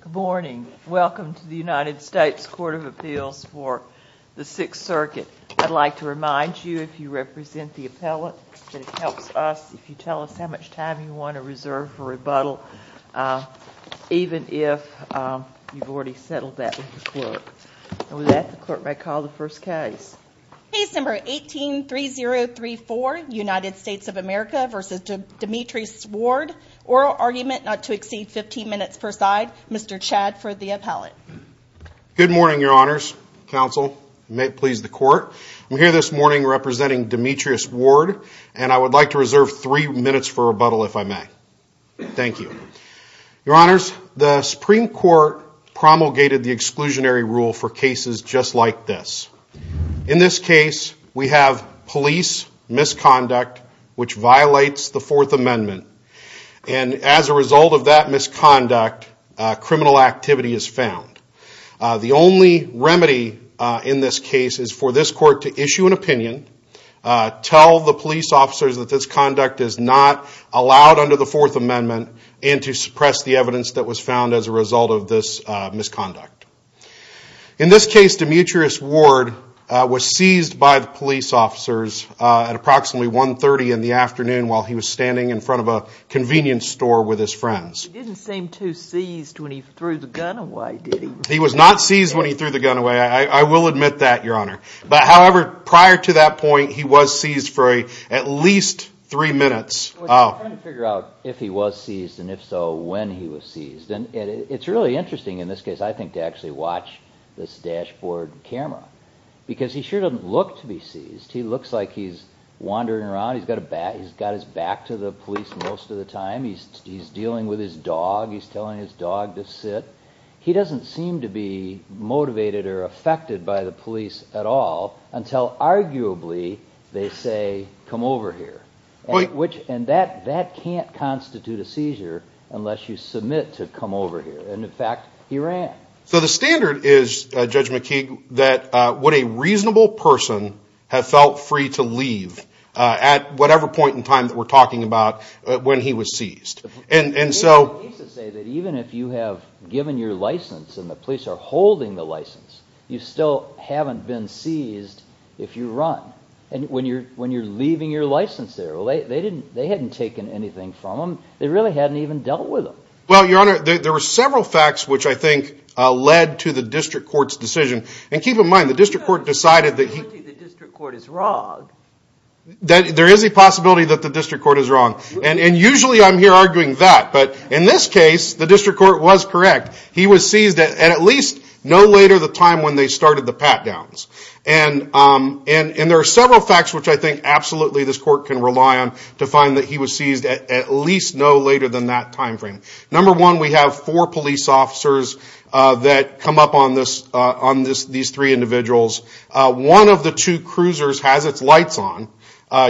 Good morning, welcome to the United States Court of Appeals for the Sixth Circuit. I'd like to remind you if you represent the appellate that it helps us if you tell us how much time you want to reserve for rebuttal, even if you've already settled that with the clerk. And with that, the clerk may call the first case. Case number 18-3034, United States of America v. Demetres Ward. Oral argument not to exceed 15 minutes per side. Mr. Chadd for the appellate. Good morning, your honors, counsel, may it please the court. I'm here this morning representing Demetres Ward and I would like to reserve three minutes for rebuttal if I may. Thank you. Your honors, the Supreme Court promulgated the exclusionary rule for cases just like this. In this case, we have police misconduct which violates the Fourth Amendment. And as a result of that misconduct, criminal activity is found. The only remedy in this case is for this court to issue an opinion, tell the police officers that this conduct is not allowed under the Fourth Amendment, and to suppress the evidence that was found as a result of this misconduct. In this case, Demetres Ward was seized by the police officers at approximately 1.30 in the afternoon while he was standing in front of a convenience store with his friends. He didn't seem too seized when he threw the gun away, did he? He was not seized when he threw the gun away, I will admit that, your honor. However, prior to that point, he was seized for at least three minutes. I'm trying to figure out if he was seized and if so, when he was seized. It's really interesting in this case, I think, to actually watch this dashboard camera because he sure doesn't look to be seized. He looks like he's wandering around, he's got his back to the police most of the time, he's dealing with his dog, he's telling his dog to sit. He doesn't seem to be motivated or affected by the police at all until arguably they say, come over here. And that can't constitute a seizure unless you submit to come over here. And in fact, he ran. So the standard is, Judge McKeague, that would a reasonable person have felt free to leave at whatever point in time that we're talking about when he was seized? Even if you have given your license and the police are holding the license, you still haven't been seized if you run. And when you're leaving your license there, they hadn't taken anything from him, they really hadn't even dealt with him. Well, Your Honor, there were several facts which I think led to the district court's decision. And keep in mind, the district court decided that he... There's a possibility the district court is wrong. There is a possibility that the district court is wrong. And usually I'm here arguing that. But in this case, the district court was correct. He was seized at at least no later the time when they started the pat-downs. And there are several facts which I think absolutely this court can rely on to find that he was seized at least no later than that time frame. Number one, we have four police officers that come up on these three individuals. One of the two cruisers has its lights on.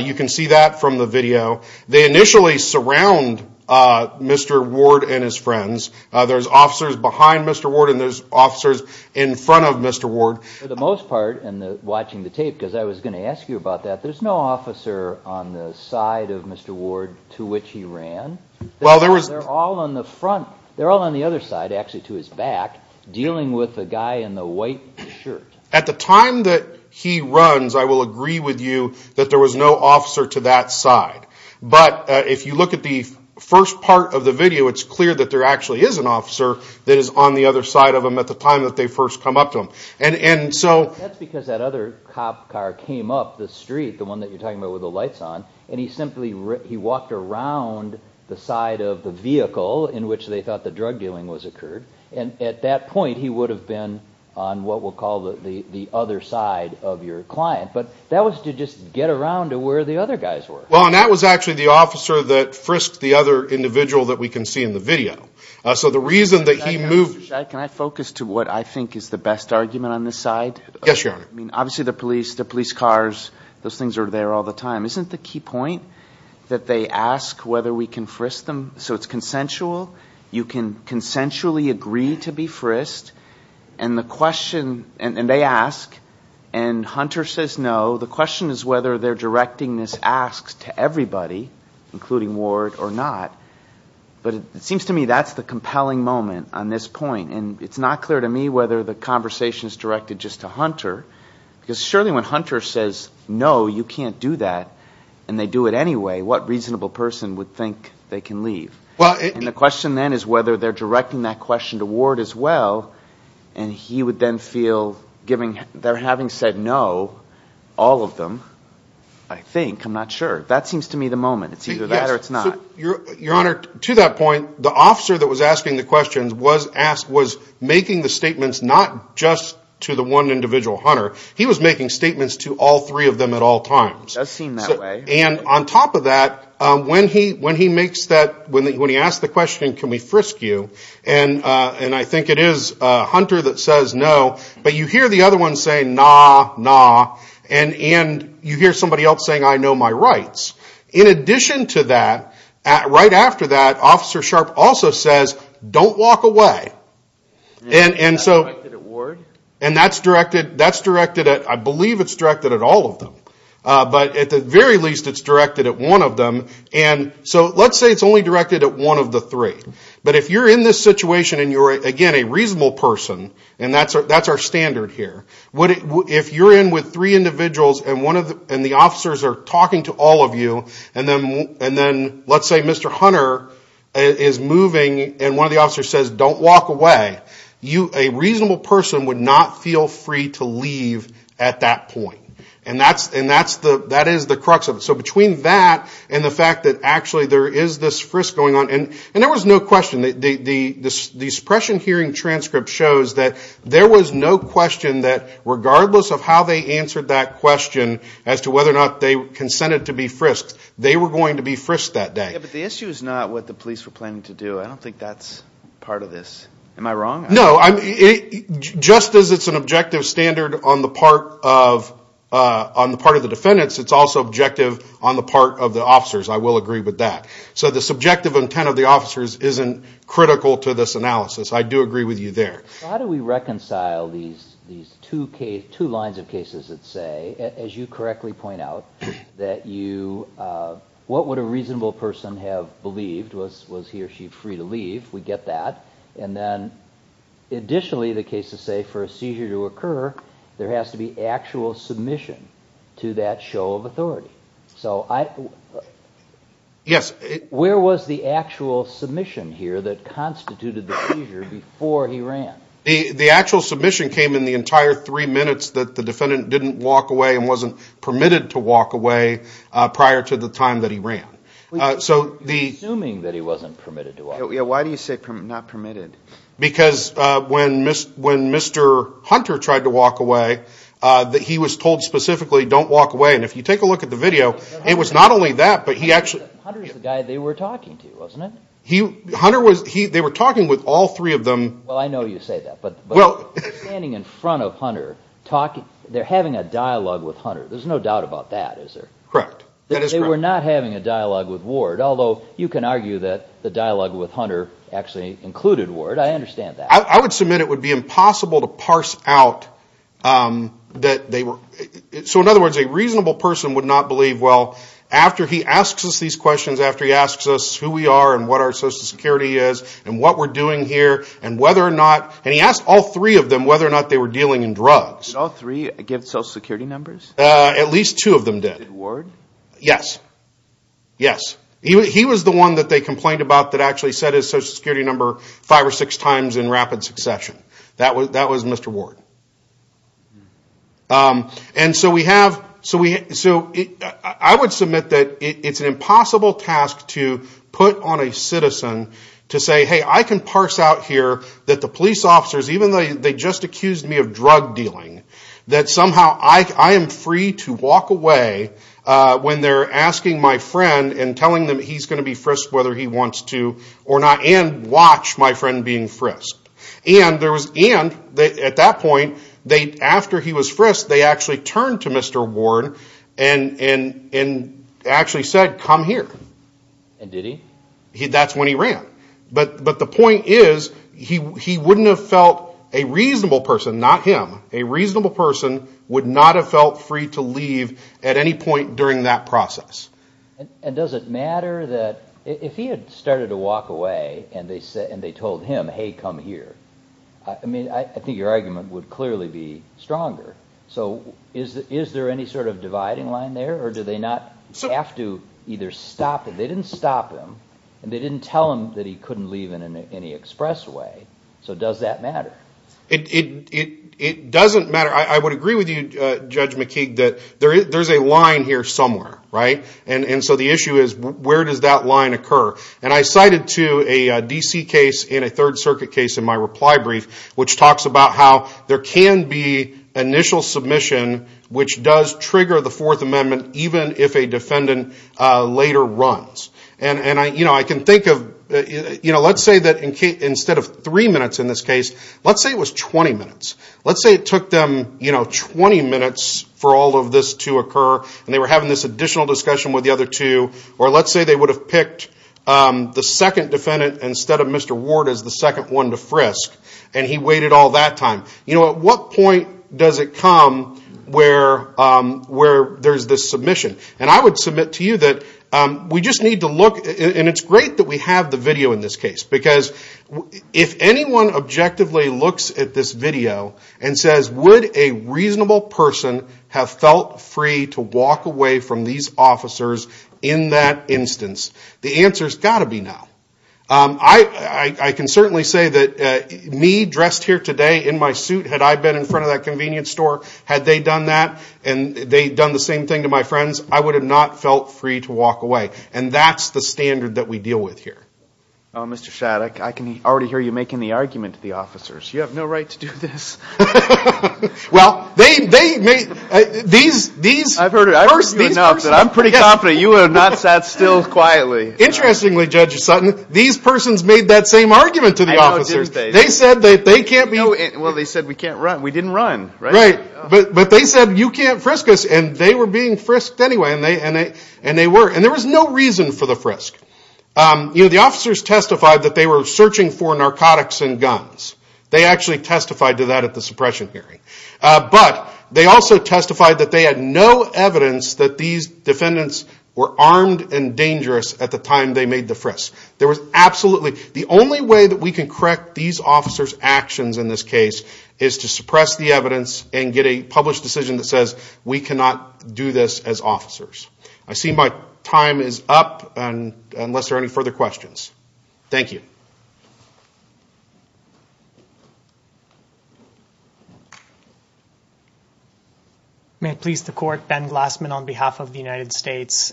You can see that from the video. They initially surround Mr. Ward and his friends. There's officers behind Mr. Ward and there's officers in front of Mr. Ward. For the most part, and watching the tape, because I was going to ask you about that, there's no officer on the side of Mr. Ward to which he ran? Well, there was... They're all on the front. They're all on the other side, actually to his back, dealing with the guy in the white shirt. At the time that he runs, I will agree with you that there was no officer to that side. But if you look at the first part of the video, it's clear that there actually is an officer that is on the other side of him at the time that they first come up to him. That's because that other cop car came up the street, the one that you're talking about with the lights on, and he simply walked around the side of the vehicle in which they thought the drug dealing was occurred. At that point, he would have been on what we'll call the other side of your client. But that was to just get around to where the other guys were. Well, and that was actually the officer that frisked the other individual that we can see in the video. Can I focus to what I think is the best argument on this side? Yes, Your Honor. I mean, obviously the police, the police cars, those things are there all the time. Isn't the key point that they ask whether we can frisk them? So it's consensual. You can consensually agree to be frisked, and the question... And Hunter says no. The question is whether they're directing this ask to everybody, including Ward or not. But it seems to me that's the compelling moment on this point. And it's not clear to me whether the conversation is directed just to Hunter, because surely when Hunter says no, you can't do that, and they do it anyway, what reasonable person would think they can leave? And the question then is whether they're directing that question to Ward as well, and he would then feel, having said no, all of them, I think, I'm not sure. That seems to me the moment. It's either that or it's not. Your Honor, to that point, the officer that was asking the questions was making the statements not just to the one individual, Hunter. He was making statements to all three of them at all times. It does seem that way. And on top of that, when he asks the question, can we frisk you, and I think it is Hunter that says no, but you hear the other one say, nah, nah, and you hear somebody else saying, I know my rights. In addition to that, right after that, Officer Sharp also says, don't walk away. And that's directed at Ward? And that's directed at, I believe it's directed at all of them. But at the very least, it's directed at one of them. And so let's say it's only directed at one of the three. But if you're in this situation and you're, again, a reasonable person, and that's our standard here, if you're in with three individuals and the officers are talking to all of you, and then let's say Mr. Hunter is moving and one of the officers says, don't walk away, a reasonable person would not feel free to leave at that point. And that is the crux of it. So between that and the fact that actually there is this frisk going on, and there was no question. The suppression hearing transcript shows that there was no question that regardless of how they answered that question as to whether or not they consented to be frisked, they were going to be frisked that day. Yeah, but the issue is not what the police were planning to do. I don't think that's part of this. Am I wrong? No, just as it's an objective standard on the part of the defendants, it's also objective on the part of the officers. I will agree with that. So the subjective intent of the officers isn't critical to this analysis. I do agree with you there. How do we reconcile these two lines of cases that say, as you correctly point out, that what would a reasonable person have believed was he or she free to leave? We get that. And then additionally, the cases say for a seizure to occur, there has to be actual submission to that show of authority. Yes. Where was the actual submission here that constituted the seizure before he ran? The actual submission came in the entire three minutes that the defendant didn't walk away and wasn't permitted to walk away prior to the time that he ran. You're assuming that he wasn't permitted to walk away. Why do you say not permitted? Because when Mr. Hunter tried to walk away, he was told specifically, don't walk away. And if you take a look at the video, it was not only that, but he actually – Hunter was the guy they were talking to, wasn't it? Hunter was – they were talking with all three of them. Well, I know you say that, but standing in front of Hunter, they're having a dialogue with Hunter. There's no doubt about that, is there? Correct. They were not having a dialogue with Ward, although you can argue that the dialogue with Hunter actually included Ward. I understand that. I would submit it would be impossible to parse out that they were – so in other words, a reasonable person would not believe, well, after he asks us these questions, after he asks us who we are and what our Social Security is and what we're doing here and whether or not – and he asked all three of them whether or not they were dealing in drugs. Did all three give Social Security numbers? At least two of them did. Did Ward? Yes. Yes. He was the one that they complained about that actually said his Social Security number five or six times in rapid succession. That was Mr. Ward. And so we have – so I would submit that it's an impossible task to put on a citizen to say, hey, I can parse out here that the police officers, even though they just accused me of drug dealing, that somehow I am free to walk away when they're asking my friend and telling them he's going to be frisked whether he wants to or not and watch my friend being frisked. And there was – and at that point, after he was frisked, they actually turned to Mr. Ward and actually said, come here. And did he? That's when he ran. But the point is he wouldn't have felt – a reasonable person, not him – a reasonable person would not have felt free to leave at any point during that process. And does it matter that if he had started to walk away and they told him, hey, come here, I mean, I think your argument would clearly be stronger. So is there any sort of dividing line there or do they not have to either stop him – they didn't stop him and they didn't tell him that he couldn't leave in any express way, so does that matter? It doesn't matter. I would agree with you, Judge McKeague, that there's a line here somewhere, right? And so the issue is where does that line occur? And I cited to a D.C. case in a Third Circuit case in my reply brief which talks about how there can be initial submission which does trigger the Fourth Amendment even if a defendant later runs. And I can think of – let's say that instead of three minutes in this case, let's say it was 20 minutes. Let's say it took them 20 minutes for all of this to occur and they were having this additional discussion with the other two or let's say they would have picked the second defendant instead of Mr. Ward as the second one to frisk and he waited all that time. At what point does it come where there's this submission? And I would submit to you that we just need to look – and it's great that we have the video in this case because if anyone objectively looks at this video and says, would a reasonable person have felt free to walk away from these officers in that instance? The answer's got to be no. I can certainly say that me dressed here today in my suit, had I been in front of that convenience store, had they done that and they'd done the same thing to my friends, I would have not felt free to walk away. And that's the standard that we deal with here. Mr. Shaddock, I can already hear you making the argument to the officers. You have no right to do this. Well, they – these – I've heard it. I've heard you enough that I'm pretty confident you would have not sat still quietly. Interestingly, Judge Sutton, these persons made that same argument to the officers. They said that they can't be – Well, they said we can't run. We didn't run, right? But they said you can't frisk us, and they were being frisked anyway, and they were. And there was no reason for the frisk. The officers testified that they were searching for narcotics and guns. They actually testified to that at the suppression hearing. But they also testified that they had no evidence that these defendants were armed and dangerous at the time they made the frisk. There was absolutely – The only way that we can correct these officers' actions in this case is to suppress the evidence and get a published decision that says we cannot do this as officers. I see my time is up, unless there are any further questions. Thank you. May it please the Court. Ben Glassman on behalf of the United States.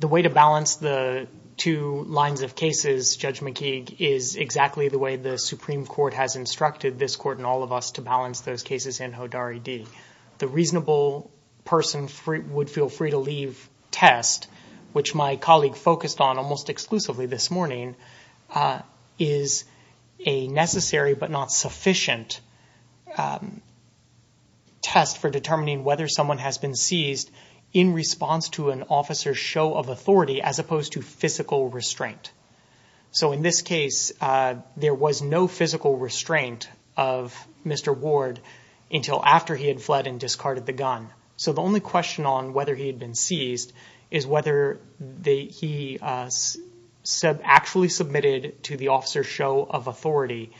The way to balance the two lines of cases, Judge McKeague, is exactly the way the Supreme Court has instructed this Court and all of us to balance those cases in Hodari D. The reasonable person would feel free to leave test, which my colleague focused on almost exclusively this morning, is a necessary but not sufficient test for determining whether someone has been seized in response to an officer's show of authority as opposed to physical restraint. So in this case, there was no physical restraint of Mr. Ward until after he had fled and discarded the gun. So the only question on whether he had been seized is whether he actually submitted to the officer's show of authority.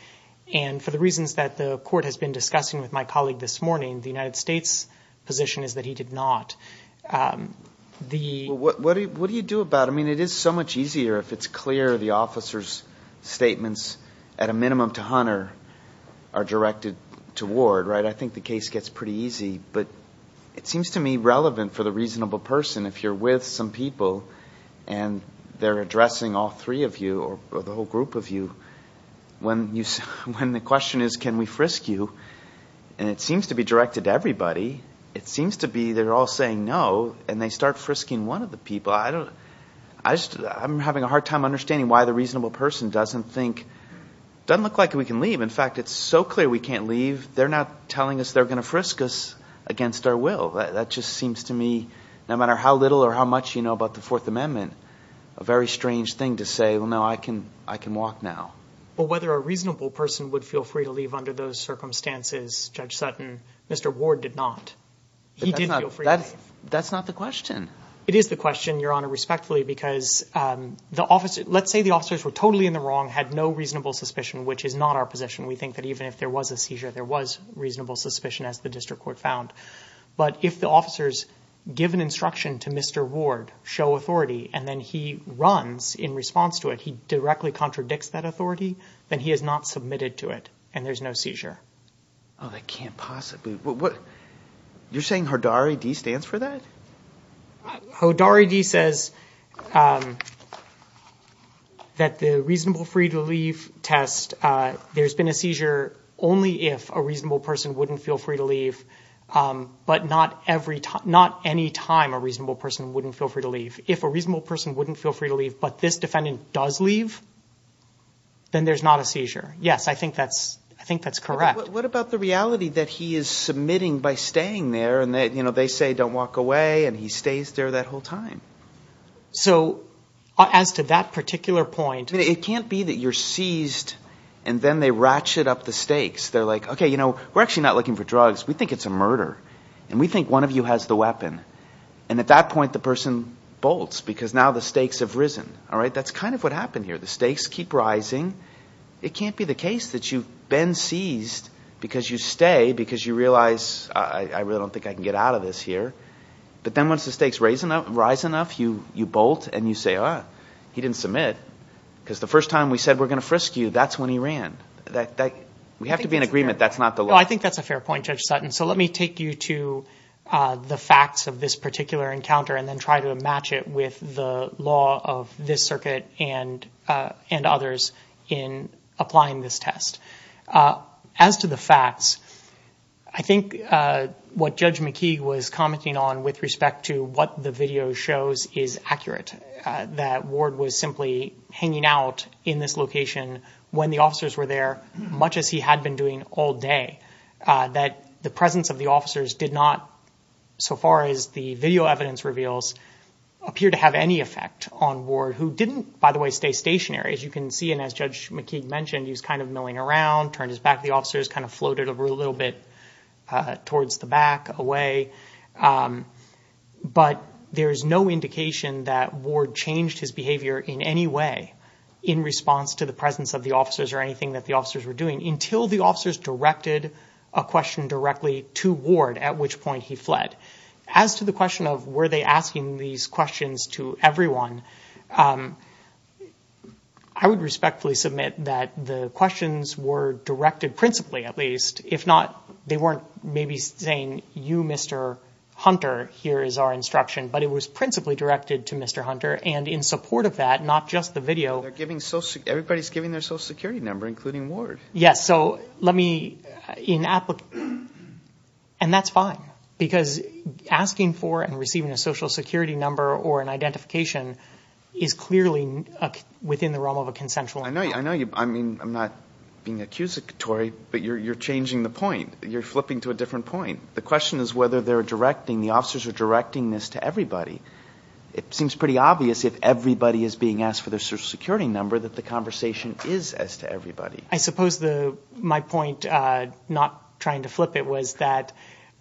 And for the reasons that the Court has been discussing with my colleague this morning, the United States' position is that he did not. What do you do about it? I mean, it is so much easier if it's clear the officer's statements at a minimum to Hunter are directed to Ward, right? I think the case gets pretty easy, but it seems to me relevant for the reasonable person. If you're with some people and they're addressing all three of you or the whole group of you, when the question is can we frisk you, and it seems to be directed to everybody, it seems to be they're all saying no and they start frisking one of the people. I'm having a hard time understanding why the reasonable person doesn't think, doesn't look like we can leave. In fact, it's so clear we can't leave, they're not telling us they're going to frisk us against our will. That just seems to me, no matter how little or how much you know about the Fourth Amendment, a very strange thing to say, well, no, I can walk now. But whether a reasonable person would feel free to leave under those circumstances, Judge Sutton, Mr. Ward did not. He did feel free to leave. That's not the question. It is the question, Your Honor, respectfully, because the officer, let's say the officers were totally in the wrong, had no reasonable suspicion, which is not our position. We think that even if there was a seizure, there was reasonable suspicion, as the district court found. But if the officers give an instruction to Mr. Ward, show authority, and then he runs in response to it, he directly contradicts that authority, then he has not submitted to it and there's no seizure. Oh, that can't possibly. You're saying Hodari D. stands for that? Hodari D. says that the reasonable free to leave test, there's been a seizure only if a reasonable person wouldn't feel free to leave, but not any time a reasonable person wouldn't feel free to leave. If a reasonable person wouldn't feel free to leave, but this defendant does leave, then there's not a seizure. Yes, I think that's correct. What about the reality that he is submitting by staying there and they say don't walk away and he stays there that whole time? So as to that particular point. It can't be that you're seized and then they ratchet up the stakes. They're like, okay, you know, we're actually not looking for drugs. We think it's a murder and we think one of you has the weapon. And at that point, the person bolts because now the stakes have risen. All right, that's kind of what happened here. The stakes keep rising. It can't be the case that you've been seized because you stay, because you realize I really don't think I can get out of this here. But then once the stakes rise enough, you bolt and you say, oh, he didn't submit. Because the first time we said we're going to frisk you, that's when he ran. We have to be in agreement that's not the law. I think that's a fair point, Judge Sutton. So let me take you to the facts of this particular encounter and then try to match it with the law of this circuit and others in applying this test. As to the facts, I think what Judge McKee was commenting on with respect to what the video shows is accurate. That Ward was simply hanging out in this location when the officers were there, much as he had been doing all day. That the presence of the officers did not, so far as the video evidence reveals, appear to have any effect on Ward, who didn't, by the way, stay stationary. As you can see, and as Judge McKee mentioned, he was kind of milling around, turned his back to the officers, kind of floated a little bit towards the back, away. But there is no indication that Ward changed his behavior in any way in response to the presence of the officers or anything that the officers were doing until the officers directed a question directly to Ward, at which point he fled. As to the question of were they asking these questions to everyone, I would respectfully submit that the questions were directed principally, at least. If not, they weren't maybe saying, you, Mr. Hunter, here is our instruction. But it was principally directed to Mr. Hunter, and in support of that, not just the video. Everybody's giving their social security number, including Ward. Yes, so let me, and that's fine, because asking for and receiving a social security number or an identification is clearly within the realm of a consensual. I know you, I mean, I'm not being accusatory, but you're changing the point. You're flipping to a different point. The question is whether they're directing, the officers are directing this to everybody. It seems pretty obvious if everybody is being asked for their social security number that the conversation is as to everybody. I suppose my point, not trying to flip it, was that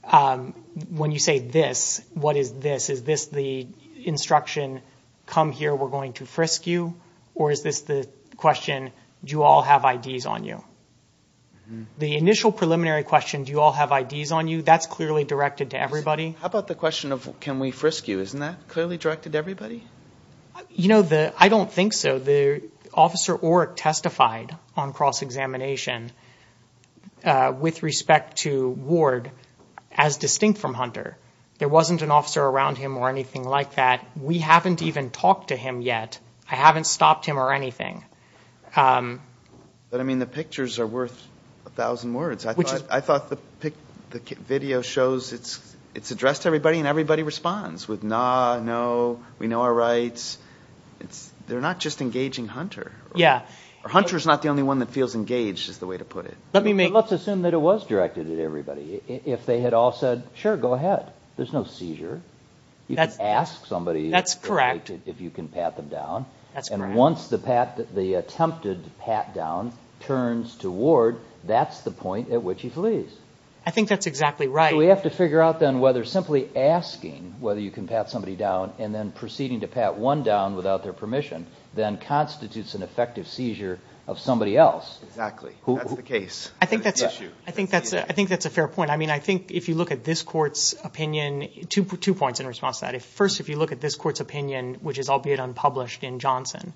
when you say this, what is this? Is this the instruction, come here, we're going to frisk you, or is this the question, do you all have IDs on you? The initial preliminary question, do you all have IDs on you, that's clearly directed to everybody. How about the question of can we frisk you, isn't that clearly directed to everybody? You know, I don't think so. Officer Oreck testified on cross-examination with respect to Ward as distinct from Hunter. There wasn't an officer around him or anything like that. We haven't even talked to him yet. I haven't stopped him or anything. But, I mean, the pictures are worth a thousand words. I thought the video shows it's addressed to everybody and everybody responds with, nah, no, we know our rights. They're not just engaging Hunter. Hunter's not the only one that feels engaged, is the way to put it. Let's assume that it was directed at everybody. If they had all said, sure, go ahead, there's no seizure. You can ask somebody if you can pat them down. And once the attempted pat-down turns to Ward, that's the point at which he flees. I think that's exactly right. So we have to figure out then whether simply asking whether you can pat somebody down and then proceeding to pat one down without their permission then constitutes an effective seizure of somebody else. Exactly. That's the case. I think that's a fair point. I mean, I think if you look at this Court's opinion, two points in response to that. First, if you look at this Court's opinion, which is albeit unpublished in Johnson,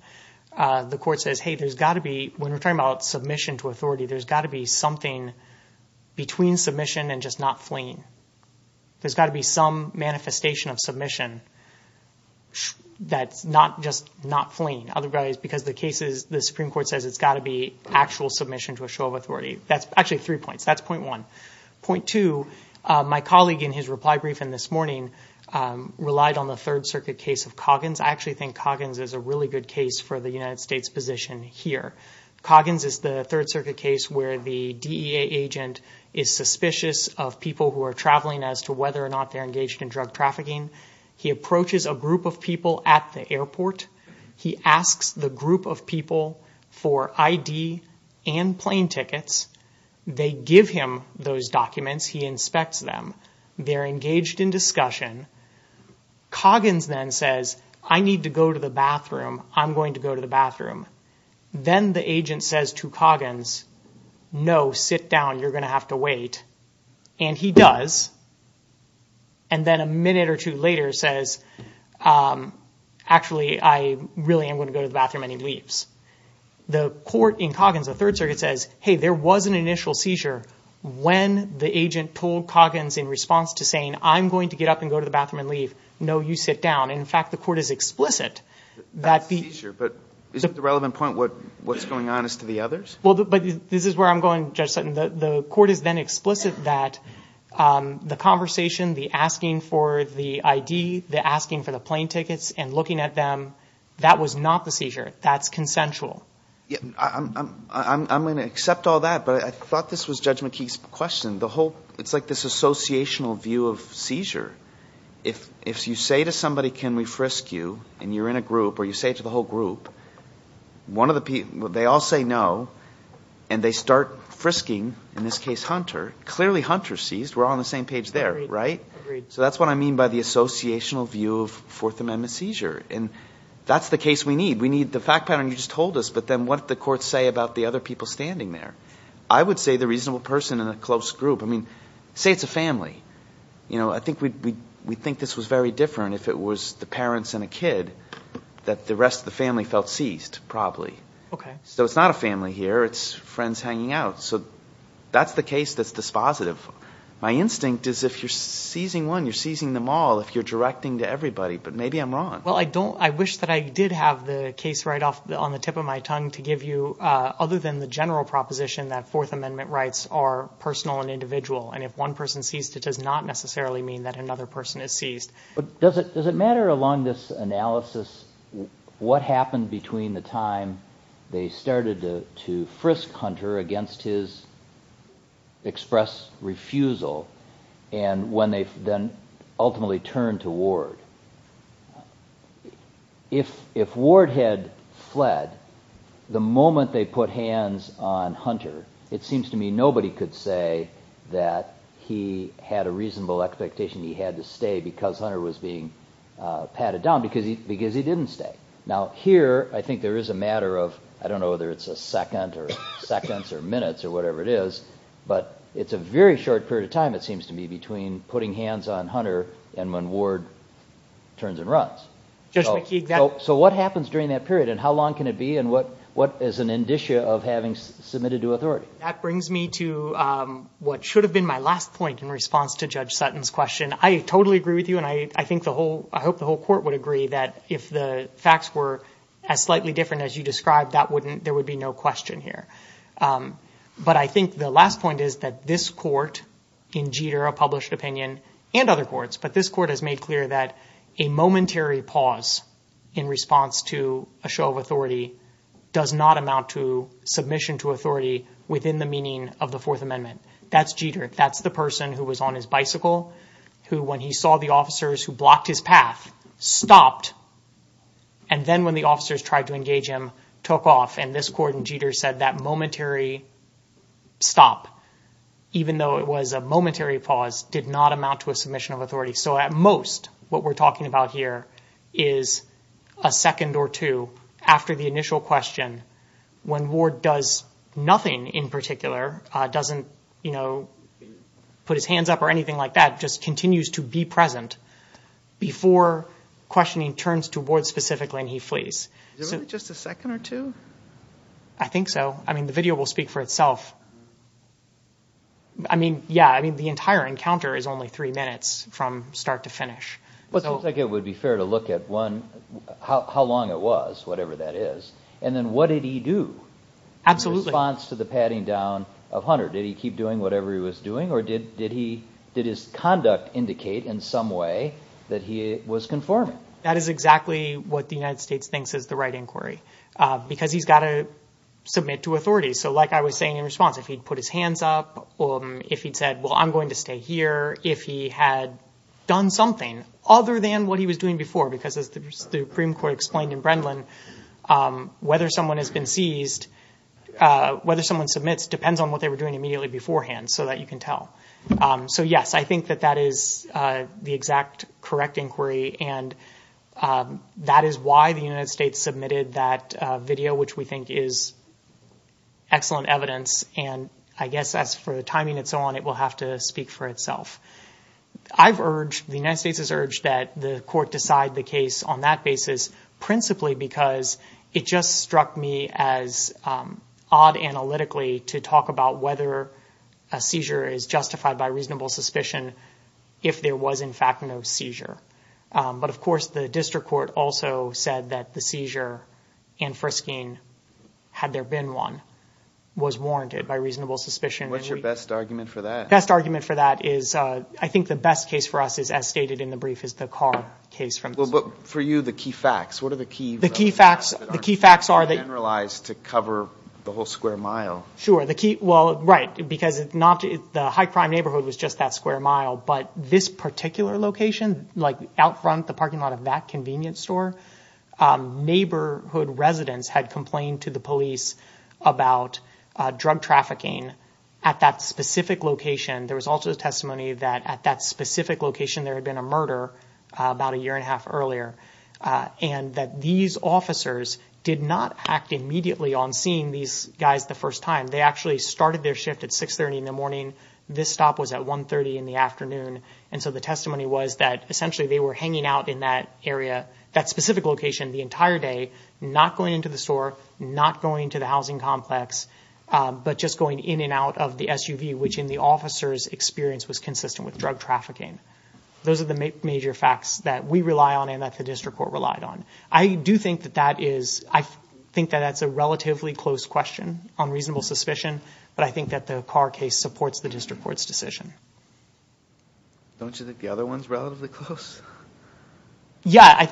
the Court says, hey, there's got to be, when we're talking about submission to authority, there's got to be something between submission and just not fleeing. There's got to be some manifestation of submission that's not just not fleeing. Otherwise, because the Supreme Court says it's got to be actual submission to a show of authority. That's actually three points. That's point one. Point two, my colleague in his reply briefing this morning relied on the Third Circuit case of Coggins. I actually think Coggins is a really good case for the United States position here. Coggins is the Third Circuit case where the DEA agent is suspicious of people who are traveling as to whether or not they're engaged in drug trafficking. He approaches a group of people at the airport. He asks the group of people for ID and plane tickets. They give him those documents. He inspects them. They're engaged in discussion. Coggins then says, I need to go to the bathroom. I'm going to go to the bathroom. Then the agent says to Coggins, no, sit down. You're going to have to wait. And he does. And then a minute or two later says, actually, I really am going to go to the bathroom. And he leaves. The court in Coggins, the Third Circuit says, hey, there was an initial seizure when the agent told Coggins in response to saying, I'm going to get up and go to the bathroom and leave. No, you sit down. And, in fact, the court is explicit that the- That's a seizure, but isn't the relevant point what's going on is to the others? Well, but this is where I'm going, Judge Sutton. The court is then explicit that the conversation, the asking for the ID, the asking for the plane tickets and looking at them, that was not the seizure. That's consensual. I'm going to accept all that, but I thought this was Judge McKee's question. It's like this associational view of seizure. If you say to somebody, can we frisk you, and you're in a group, or you say it to the whole group, they all say no, and they start frisking, in this case, Hunter. Clearly, Hunter's seized. We're all on the same page there, right? Agreed. So that's what I mean by the associational view of Fourth Amendment seizure. And that's the case we need. We need the fact pattern you just told us, but then what did the court say about the other people standing there? I would say the reasonable person in a close group. I mean, say it's a family. I think we'd think this was very different if it was the parents and a kid, that the rest of the family felt seized, probably. So it's not a family here. It's friends hanging out. So that's the case that's dispositive. My instinct is if you're seizing one, you're seizing them all, if you're directing to everybody. But maybe I'm wrong. Well, I wish that I did have the case right off on the tip of my tongue to give you, other than the general proposition that Fourth Amendment rights are personal and individual, and if one person is seized, it does not necessarily mean that another person is seized. Does it matter along this analysis what happened between the time they started to frisk Hunter against his express refusal and when they then ultimately turned to Ward? If Ward had fled, the moment they put hands on Hunter, it seems to me nobody could say that he had a reasonable expectation he had to stay because Hunter was being patted down, because he didn't stay. Now here, I think there is a matter of, I don't know whether it's a second or seconds or minutes or whatever it is, but it's a very short period of time, it seems to me, between putting hands on Hunter and when Ward turns and runs. So what happens during that period and how long can it be and what is an indicia of having submitted to authority? That brings me to what should have been my last point in response to Judge Sutton's question. I totally agree with you and I hope the whole court would agree that if the facts were as slightly different as you described, there would be no question here. But I think the last point is that this court, in Jeter, a published opinion, and other courts, but this court has made clear that a momentary pause in response to a show of authority does not amount to submission to authority within the meaning of the Fourth Amendment. That's Jeter, that's the person who was on his bicycle, who when he saw the officers who blocked his path, stopped, and then when the officers tried to engage him, took off, and this court in Jeter said that momentary stop, even though it was a momentary pause, did not amount to a submission of authority. So at most, what we're talking about here is a second or two after the initial question, when Ward does nothing in particular, doesn't put his hands up or anything like that, just continues to be present before questioning turns to Ward specifically and he flees. Is it really just a second or two? I think so. I mean, the video will speak for itself. I mean, yeah, the entire encounter is only three minutes from start to finish. Well, it seems like it would be fair to look at one, how long it was, whatever that is, and then what did he do in response to the patting down of Hunter? Did he keep doing whatever he was doing, or did his conduct indicate in some way that he was conforming? That is exactly what the United States thinks is the right inquiry, because he's got to submit to authorities. So like I was saying in response, if he'd put his hands up, if he'd said, well, I'm going to stay here, if he had done something other than what he was doing before, because as the Supreme Court explained in Brendan, whether someone has been seized, whether someone submits depends on what they were doing immediately beforehand so that you can tell. So, yes, I think that that is the exact correct inquiry. And that is why the United States submitted that video, which we think is excellent evidence. And I guess as for the timing and so on, it will have to speak for itself. I've urged, the United States has urged that the court decide the case on that basis, principally because it just struck me as odd analytically to talk about whether a seizure is justified by reasonable suspicion if there was in fact no seizure. But, of course, the district court also said that the seizure and frisking, had there been one, was warranted by reasonable suspicion. What's your best argument for that? The best argument for that is, I think the best case for us is, as stated in the brief, is the car case. Well, but for you, the key facts, what are the key facts that aren't generalized to cover the whole square mile? Sure, the key, well, right, because the high crime neighborhood was just that square mile, but this particular location, like out front the parking lot of that convenience store, neighborhood residents had complained to the police about drug trafficking at that specific location. There was also a testimony that at that specific location, there had been a murder about a year and a half earlier, and that these officers did not act immediately on seeing these guys the first time. They actually started their shift at 630 in the morning. This stop was at 130 in the afternoon. And so the testimony was that essentially they were hanging out in that area, that specific location, the entire day, not going into the store, not going to the housing complex, but just going in and out of the SUV, which in the officer's experience was consistent with drug trafficking. Those are the major facts that we rely on and that the district court relied on. I do think that that is, I think that that's a relatively close question on reasonable suspicion, but I think that the Carr case supports the district court's decision. Don't you think the other one's relatively close? Yeah, I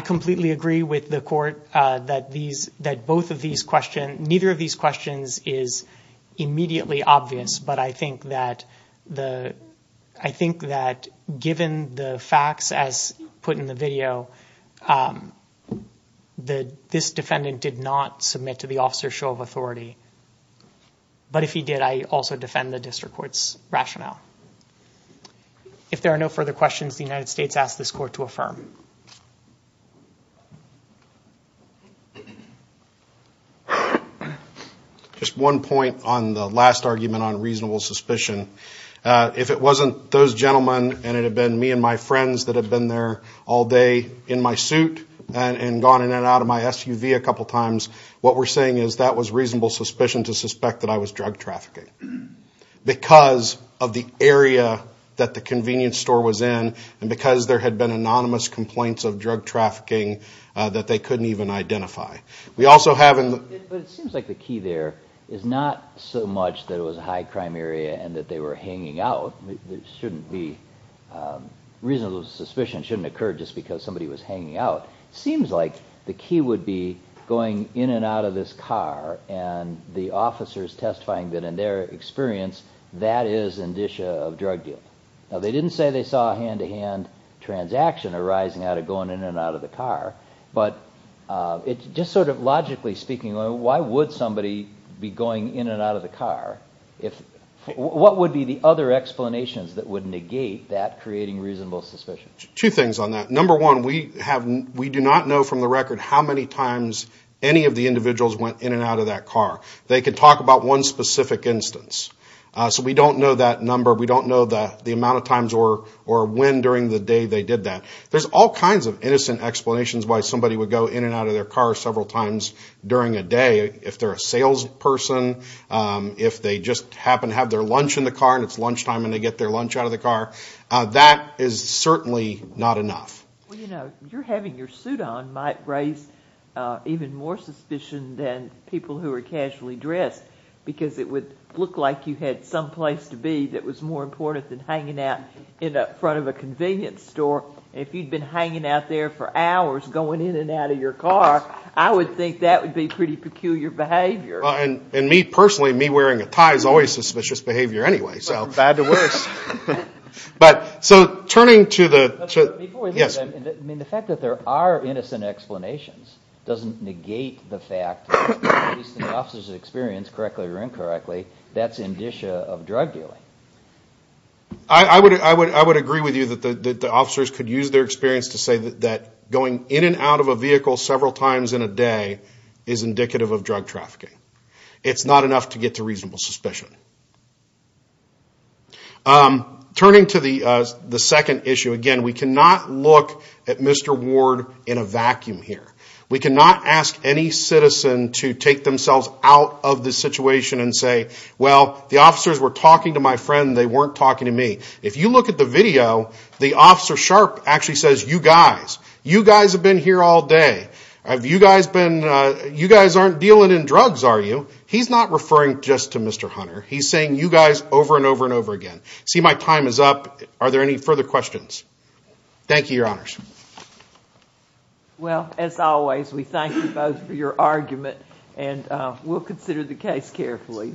completely agree with the court that both of these questions, neither of these questions is immediately obvious, but I think that given the facts as put in the video, that this defendant did not submit to the officer's show of authority. But if he did, I also defend the district court's rationale. If there are no further questions, the United States asks this court to affirm. Just one point on the last argument on reasonable suspicion. If it wasn't those gentlemen and it had been me and my friends that had been there all day in my suit and gone in and out of my SUV a couple of times, what we're saying is that was reasonable suspicion to suspect that I was drug trafficking because of the area that the convenience store was in and because there had been anonymous complaints of drug trafficking that they couldn't even identify. But it seems like the key there is not so much that it was a high crime area and that they were hanging out. There shouldn't be reasonable suspicion. It shouldn't occur just because somebody was hanging out. It seems like the key would be going in and out of this car and the officers testifying that in their experience that is indicia of drug dealing. Now, they didn't say they saw a hand-to-hand transaction arising out of going in and out of the car, but just sort of logically speaking, why would somebody be going in and out of the car? What would be the other explanations that would negate that creating reasonable suspicion? Two things on that. Number one, we do not know from the record how many times any of the individuals went in and out of that car. They could talk about one specific instance. So we don't know that number. We don't know the amount of times or when during the day they did that. There's all kinds of innocent explanations why somebody would go in and out of their car several times during a day. If they're a salesperson, if they just happen to have their lunch in the car and it's lunchtime and they get their lunch out of the car, that is certainly not enough. Well, you know, you're having your suit on might raise even more suspicion than people who are casually dressed because it would look like you had some place to be that was more important than hanging out in front of a convenience store. If you'd been hanging out there for hours going in and out of your car, I would think that would be pretty peculiar behavior. And me personally, me wearing a tie is always suspicious behavior anyway. From bad to worse. So turning to the... Before we leave, the fact that there are innocent explanations doesn't negate the fact, at least in the officer's experience, correctly or incorrectly, that's indicia of drug dealing. I would agree with you that the officers could use their experience to say that going in and out of a vehicle several times in a day is indicative of drug trafficking. It's not enough to get to reasonable suspicion. Turning to the second issue, again, we cannot look at Mr. Ward in a vacuum here. We cannot ask any citizen to take themselves out of the situation and say, well, the officers were talking to my friend, they weren't talking to me. If you look at the video, the Officer Sharp actually says, you guys, you guys have been here all day. You guys aren't dealing in drugs, are you? He's not referring just to Mr. Hunter. He's saying you guys over and over and over again. See, my time is up. Are there any further questions? Thank you, Your Honors. Well, as always, we thank you both for your argument, and we'll consider the case carefully.